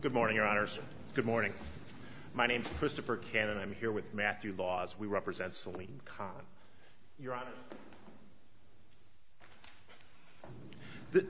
Good morning, Your Honors. Good morning. My name is Christopher Cannon. I'm here with Matthew Laws. We represent Saleem Khan. Your Honor,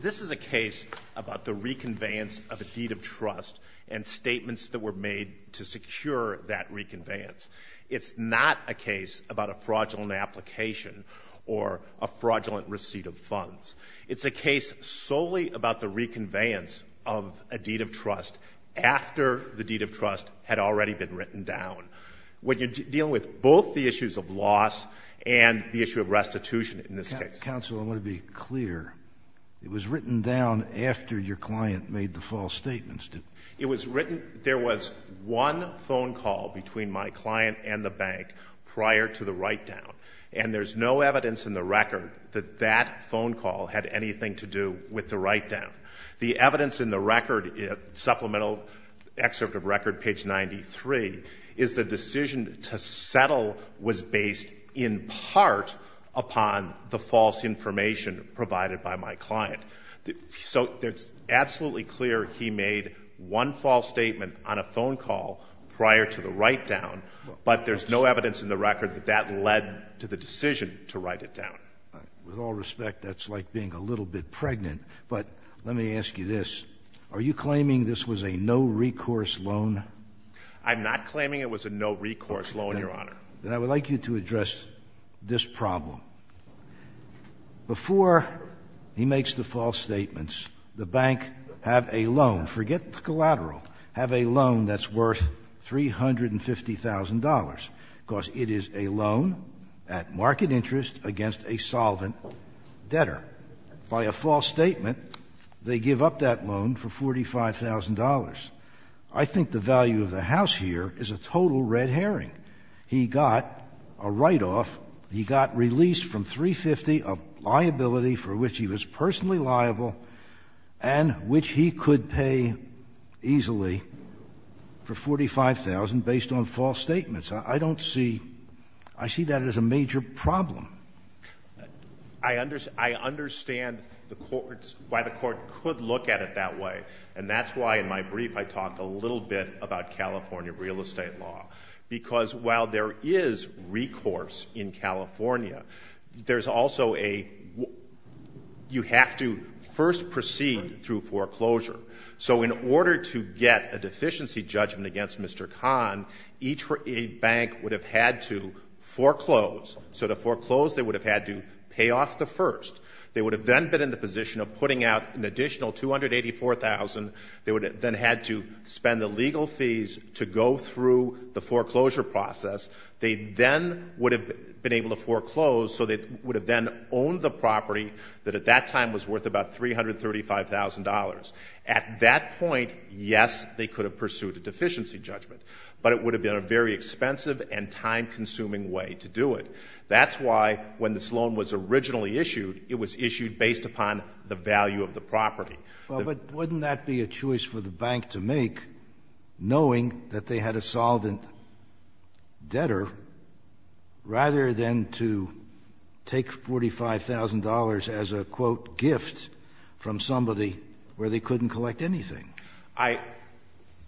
this is a case about the reconveyance of a deed of trust and statements that were made to secure that reconveyance. It's not a case about a fraudulent application or a fraudulent receipt of funds. It's a case solely about the reconveyance of a deed of trust after the deed of trust had already been written down. When you're dealing with both the issues of loss and the issue of restitution in this case. Counsel, I want to be clear. It was written down after your client made the false statements? It was written, there was one phone call between my client and the bank prior to the write-down. And there's no evidence in the record that that phone call had anything to do with the write-down. The evidence in the record, supplemental excerpt of record, page 93, is the decision to settle was based in part upon the false information provided by my client. So it's absolutely clear he made one false statement on a phone call prior to the write-down, but there's no evidence in the record that that led to the decision to write it down. With all respect, that's like being a little bit pregnant. But let me ask you this. Are you claiming this was a no-recourse loan? I'm not claiming it was a no-recourse loan, Your Honor. Then I would like you to address this problem. Before he makes the false statements, the bank have a loan, forget the collateral, have a loan that's worth $350,000. Because it is a loan at market interest against a solvent debtor. By a false statement, they give up that loan for $45,000. I think the value of the house here is a total red herring. He got a write-off. He got released from $350,000 of liability for which he was personally I see that as a major problem. I understand the courts, why the court could look at it that way. And that's why in my brief I talked a little bit about California real estate law. Because while there is recourse in California, there's also a you have to first proceed through foreclosure. So in order to get a deficiency judgment against Mr. Kahn, each bank would have had to foreclose. So to foreclose, they would have had to pay off the first. They would have then been in the position of putting out an additional $284,000. They would have then had to spend the legal fees to go through the foreclosure process. They then would have been able to foreclose, so they would have then owned the property that at that time was worth about $335,000. At that point, yes, they could have pursued a deficiency judgment, but it would have been a very expensive and time-consuming way to do it. That's why when this loan was originally issued, it was issued based upon the value of the property. Well, but wouldn't that be a choice for the bank to make, knowing that they had a solvent from somebody where they couldn't collect anything?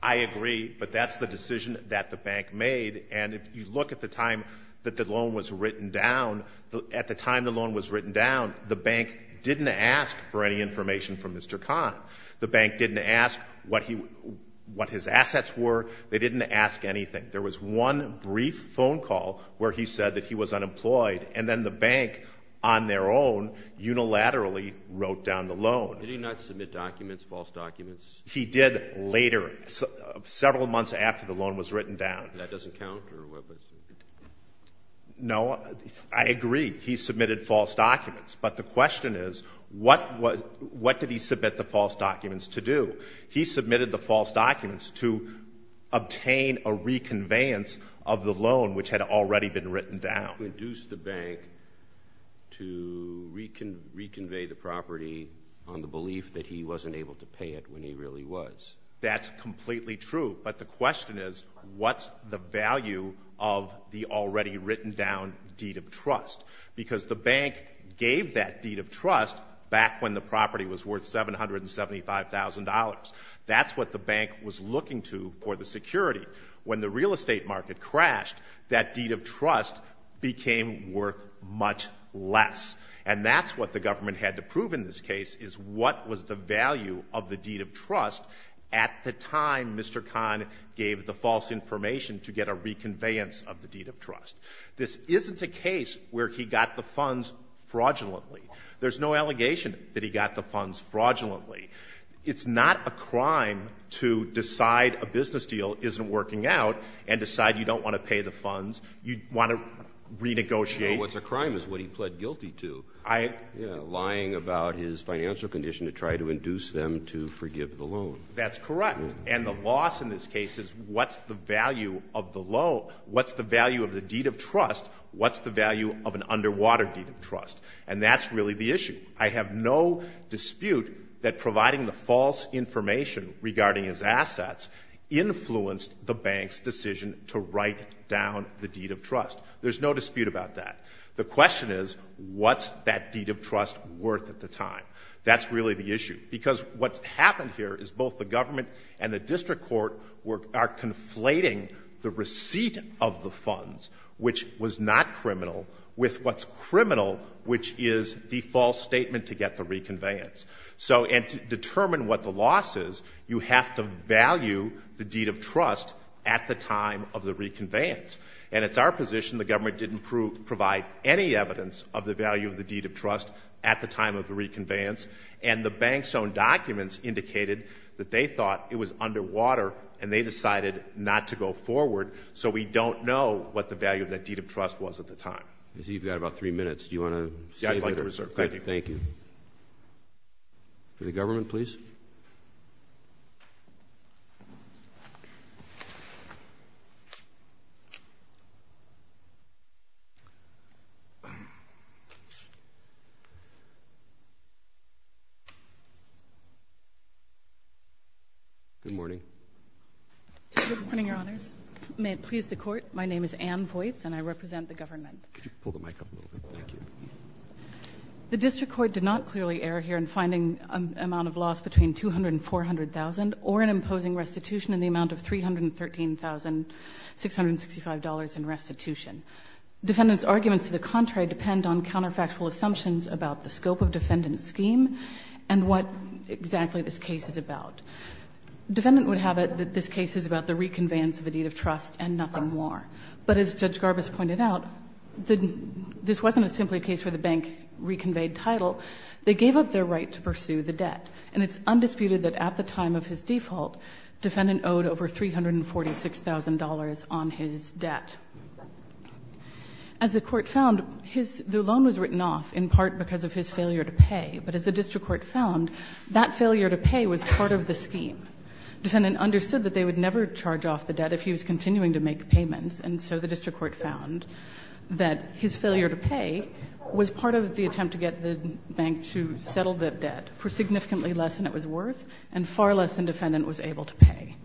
I agree, but that's the decision that the bank made. And if you look at the time that the loan was written down, at the time the loan was written down, the bank didn't ask for any information from Mr. Kahn. The bank didn't ask what his assets were. They didn't ask anything. There was one brief phone call where he said that he was unemployed, and then the bank, on their own, unilaterally wrote down the loan. Did he not submit documents, false documents? He did later, several months after the loan was written down. And that doesn't count? No. I agree. He submitted false documents. But the question is, what did he submit the false documents to do? He submitted the false documents to obtain a reconveyance of the loan, which had already been written down. Did the bank induce the bank to reconvey the property on the belief that he wasn't able to pay it when he really was? That's completely true. But the question is, what's the value of the already written down deed of trust? Because the bank gave that deed of trust back when the property was worth $775,000. That's what the bank was looking to for the security. When the real estate market crashed, that deed of trust became worth much less. And that's what the government had to prove in this case, is what was the value of the deed of trust at the time Mr. Kahn gave the false information to get a reconveyance of the deed of trust. This isn't a case where he got the funds fraudulently. There's no allegation that he got the funds You don't want to pay the funds. You want to renegotiate. What's a crime is what he pled guilty to. Lying about his financial condition to try to induce them to forgive the loan. That's correct. And the loss in this case is what's the value of the loan? What's the value of the deed of trust? What's the value of an underwater deed of trust? And that's really the issue. I have no dispute that providing the false information regarding his assets influenced the bank's decision to write down the deed of trust. There's no dispute about that. The question is, what's that deed of trust worth at the time? That's really the issue. Because what's happened here is both the government and the district court are conflating the receipt of the funds, which was not criminal, with what's criminal, which is the false statement to get the reconveyance. So, and to determine what the loss is, you have to value the deed of trust at the time of the reconveyance. And it's our position the government didn't provide any evidence of the value of the deed of trust at the time of the reconveyance. And the bank's own documents indicated that they thought it was underwater, and they decided not to go forward. So we don't know what the value of that deed of trust was at the time. You've got about three minutes. Do you want to save it? I think I deserve it. Thank you. Thank you. For the government, please. Good morning. Good morning, Your Honors. May it please the Court, my name is Anne Voitz, and I represent the government. Could you pull the mic up a little bit? Thank you. The district court did not clearly err here in finding an amount of loss between $200,000 and $400,000 or in imposing restitution in the amount of $313,665 in restitution. Defendant's arguments to the contrary depend on counterfactual assumptions about the scope of defendant's scheme and what exactly this case is about. Defendant would have it that this case is about the reconveyance of a deed of trust and nothing more. But as Judge Garbus pointed out, this wasn't simply a case where the bank reconveyed title. They gave up their right to pursue the debt. And it's undisputed that at the time of his default, defendant owed over $346,000 on his debt. As the Court found, his loan was written off in part because of his failure to pay. But as the district court found, that failure to pay was part of the scheme. Defendant understood that they would never charge off the debt if he was continuing to make payments, and so the district court found that his failure to pay was part of the attempt to get the bank to settle the debt for significantly less than it was worth and far less than defendant was able to pay.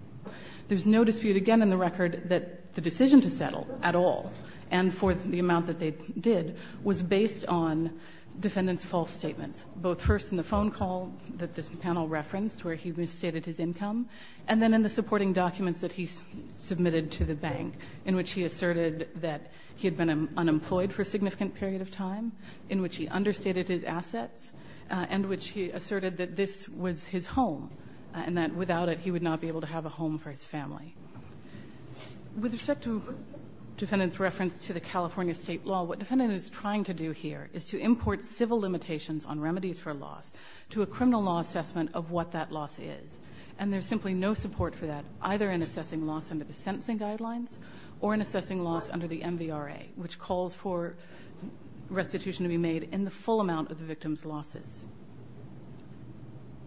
There's no dispute again in the record that the decision to settle at all and for the amount that they did was based on defendant's false statements, both first in the phone call that this panel referenced where he misstated his income, and then in the bank in which he asserted that he had been unemployed for a significant period of time, in which he understated his assets, and which he asserted that this was his home and that without it he would not be able to have a home for his family. With respect to defendant's reference to the California state law, what defendant is trying to do here is to import civil limitations on remedies for loss to a criminal law assessment of what that loss is. And there's simply no support for that, either in assessing loss under the sentencing guidelines or in assessing loss under the MVRA, which calls for restitution to be made in the full amount of the victim's losses.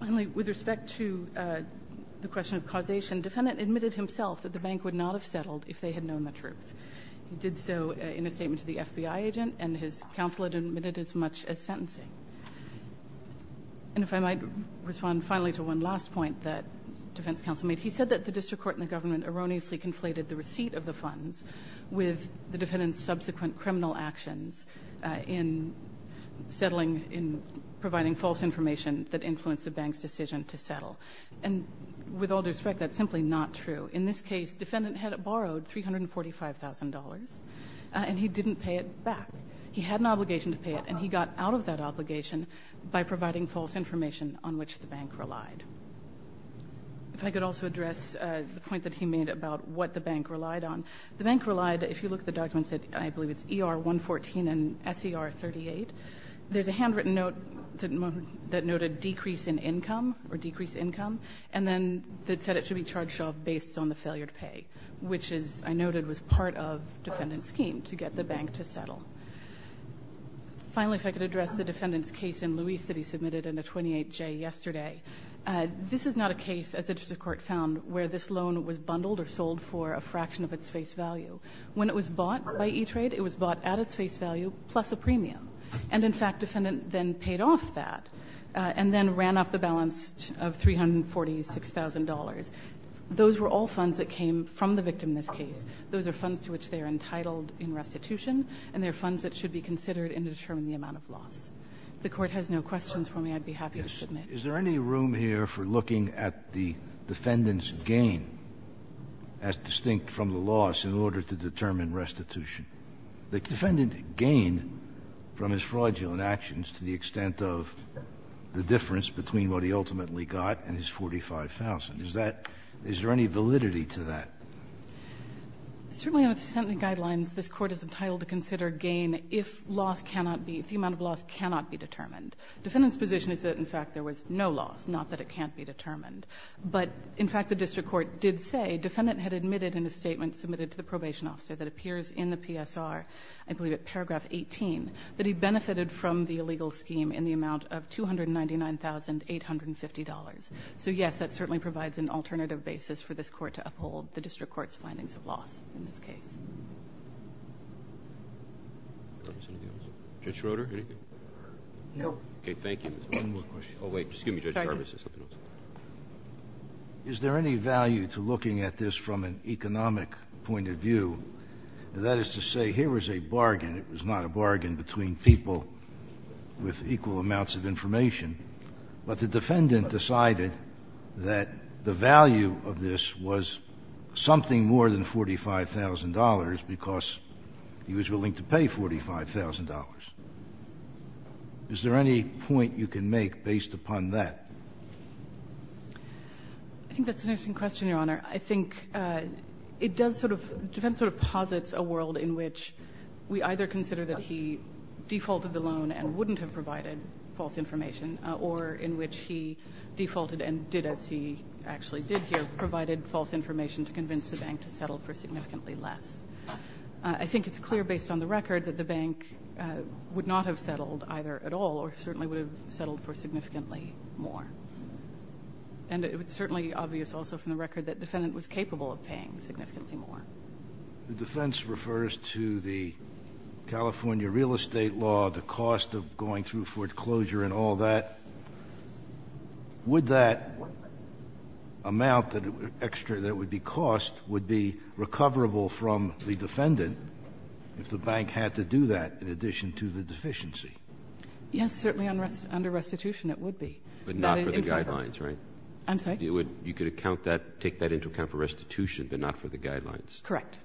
Finally, with respect to the question of causation, defendant admitted himself that the bank would not have settled if they had known the truth. He did so in a statement to the FBI agent, and his counsel admitted as much as sentencing. And if I might respond finally to one last point that defense counsel made, he said that the district court and the government erroneously conflated the receipt of the funds with the defendant's subsequent criminal actions in settling, in providing false information that influenced the bank's decision to settle. And with all due respect, that's simply not true. In this case, defendant had borrowed $345,000, and he didn't pay it back. He had an obligation to pay it, and he got out of that obligation by providing false information on which the bank relied. If I could also address the point that he made about what the bank relied on. The bank relied, if you look at the documents, I believe it's ER-114 and SER-38. There's a handwritten note that noted decrease in income or decrease income, and then it said it should be charged based on the failure to pay, which, as I noted, was part of defendant's scheme to get the bank to settle. Finally, if I could address the defendant's case in Louise that he submitted in a 28-J yesterday. This is not a case, as the district court found, where this loan was bundled or sold for a fraction of its face value. When it was bought by E-Trade, it was bought at its face value plus a premium. And, in fact, defendant then paid off that and then ran off the balance of $346,000. Those were all funds that came from the victim in this case. Those are funds to which they are entitled in restitution, and they are funds that should be considered in determining the amount of loss. If the Court has no questions for me, I'd be happy to submit. Scalia. Yes. Is there any room here for looking at the defendant's gain as distinct from the loss in order to determine restitution? The defendant gained from his fraudulent actions to the extent of the difference between what he ultimately got and his $45,000. Is that – is there any validity to that? Certainly, under the sentencing guidelines, this Court is entitled to consider gain if loss cannot be – if the amount of loss cannot be determined. The defendant's position is that, in fact, there was no loss, not that it can't be determined. But, in fact, the district court did say, defendant had admitted in a statement submitted to the probation officer that appears in the PSR, I believe at paragraph 18, that he benefited from the illegal scheme in the amount of $299,850. Is there any value to looking at this from an economic point of view? That is to say, here was a bargain. It was not a bargain between people with equal amounts of information. But the defendant decided that the value of this was the amount of loss that something more than $45,000 because he was willing to pay $45,000. Is there any point you can make based upon that? I think that's an interesting question, Your Honor. I think it does sort of – the defense sort of posits a world in which we either consider that he defaulted the loan and wouldn't have provided false information or in which he defaulted and did, as he actually did here, provided false information to convince the bank to settle for significantly less. I think it's clear based on the record that the bank would not have settled either at all or certainly would have settled for significantly more. And it's certainly obvious also from the record that the defendant was capable of paying significantly more. The defense refers to the California real estate law, the cost of going through foreclosure and all that. Would that amount that would be cost would be recoverable from the defendant if the bank had to do that in addition to the deficiency? Yes, certainly under restitution it would be. But not for the guidelines, right? I'm sorry? You could account that, take that into account for restitution, but not for the guidelines. Correct.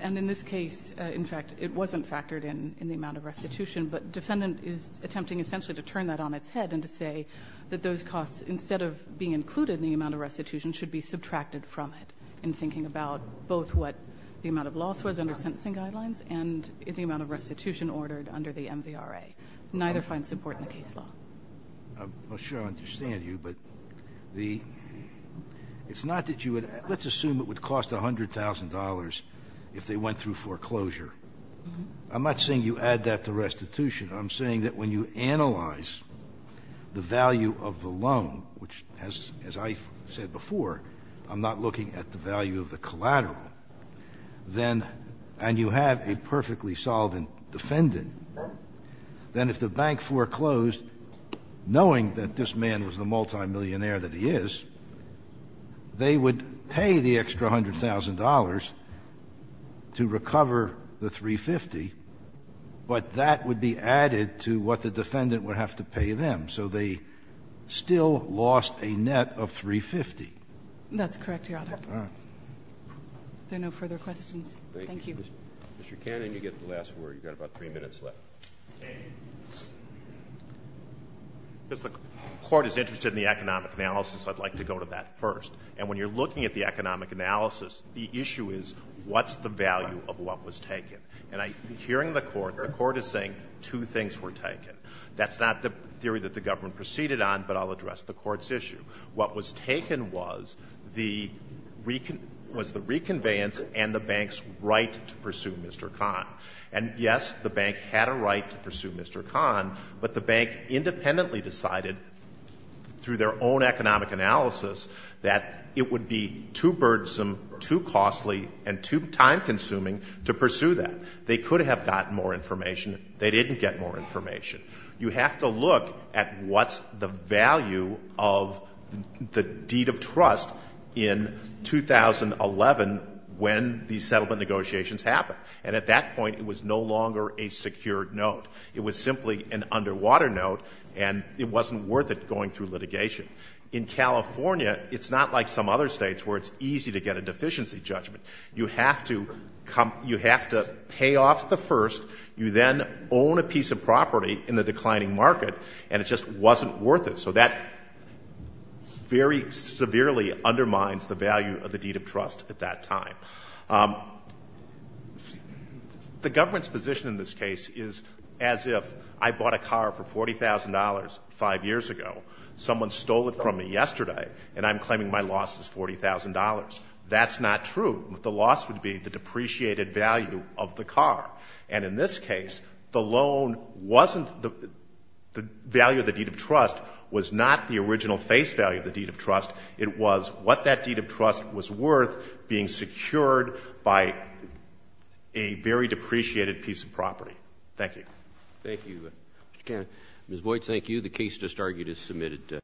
And in this case, in fact, it wasn't factored in in the amount of restitution, but defendant is attempting essentially to turn that on its head and to say that those costs, instead of being included in the amount of restitution, should be subtracted from it in thinking about both what the amount of loss was under sentencing guidelines and the amount of restitution ordered under the MVRA. Neither finds support in the case law. I'm not sure I understand you, but the – it's not that you would – let's assume it would cost $100,000 if they went through foreclosure. I'm not saying you add that to restitution. I'm saying that when you analyze the value of the loan, which has, as I said before, I'm not looking at the value of the collateral, then – and you have a perfectly solvent defendant, then if the bank foreclosed, knowing that this man was the multimillionaire that he is, they would pay the extra $100,000 to recover the $350,000. But that would be added to what the defendant would have to pay them. So they still lost a net of $350,000. That's correct, Your Honor. All right. Are there no further questions? Thank you. Mr. Cannon, you get the last word. You've got about three minutes left. Mr. Cannon. If the Court is interested in the economic analysis, I'd like to go to that first. And when you're looking at the economic analysis, the issue is what's the value of what was taken. And I'm hearing the Court. The Court is saying two things were taken. That's not the theory that the government proceeded on, but I'll address the Court's issue. What was taken was the reconveyance and the bank's right to pursue Mr. Kahn. And, yes, the bank had a right to pursue Mr. Kahn, but the bank independently decided through their own economic analysis that it would be too burdensome, too costly, and too time-consuming to pursue that. They could have gotten more information. They didn't get more information. You have to look at what's the value of the deed of trust in 2011 when these settlement negotiations happened. And at that point, it was no longer a secured note. It was simply an underwater note, and it wasn't worth it going through litigation. In California, it's not like some other states where it's easy to get a deficiency judgment. You have to pay off the first, you then own a piece of property in the declining market, and it just wasn't worth it. So that very severely undermines the value of the deed of trust at that time. The government's position in this case is as if I bought a car for $40,000 5 years ago, someone stole it from me yesterday, and I'm claiming my loss is $40,000. That's not true. The loss would be the depreciated value of the car. And in this case, the loan wasn't the value of the deed of trust was not the original face value of the deed of trust. It was what that deed of trust was worth being secured by a very depreciated piece of property. Thank you. Roberts. Thank you, Mr. Kahn. Ms. Boyd, thank you. The case just argued is submitted.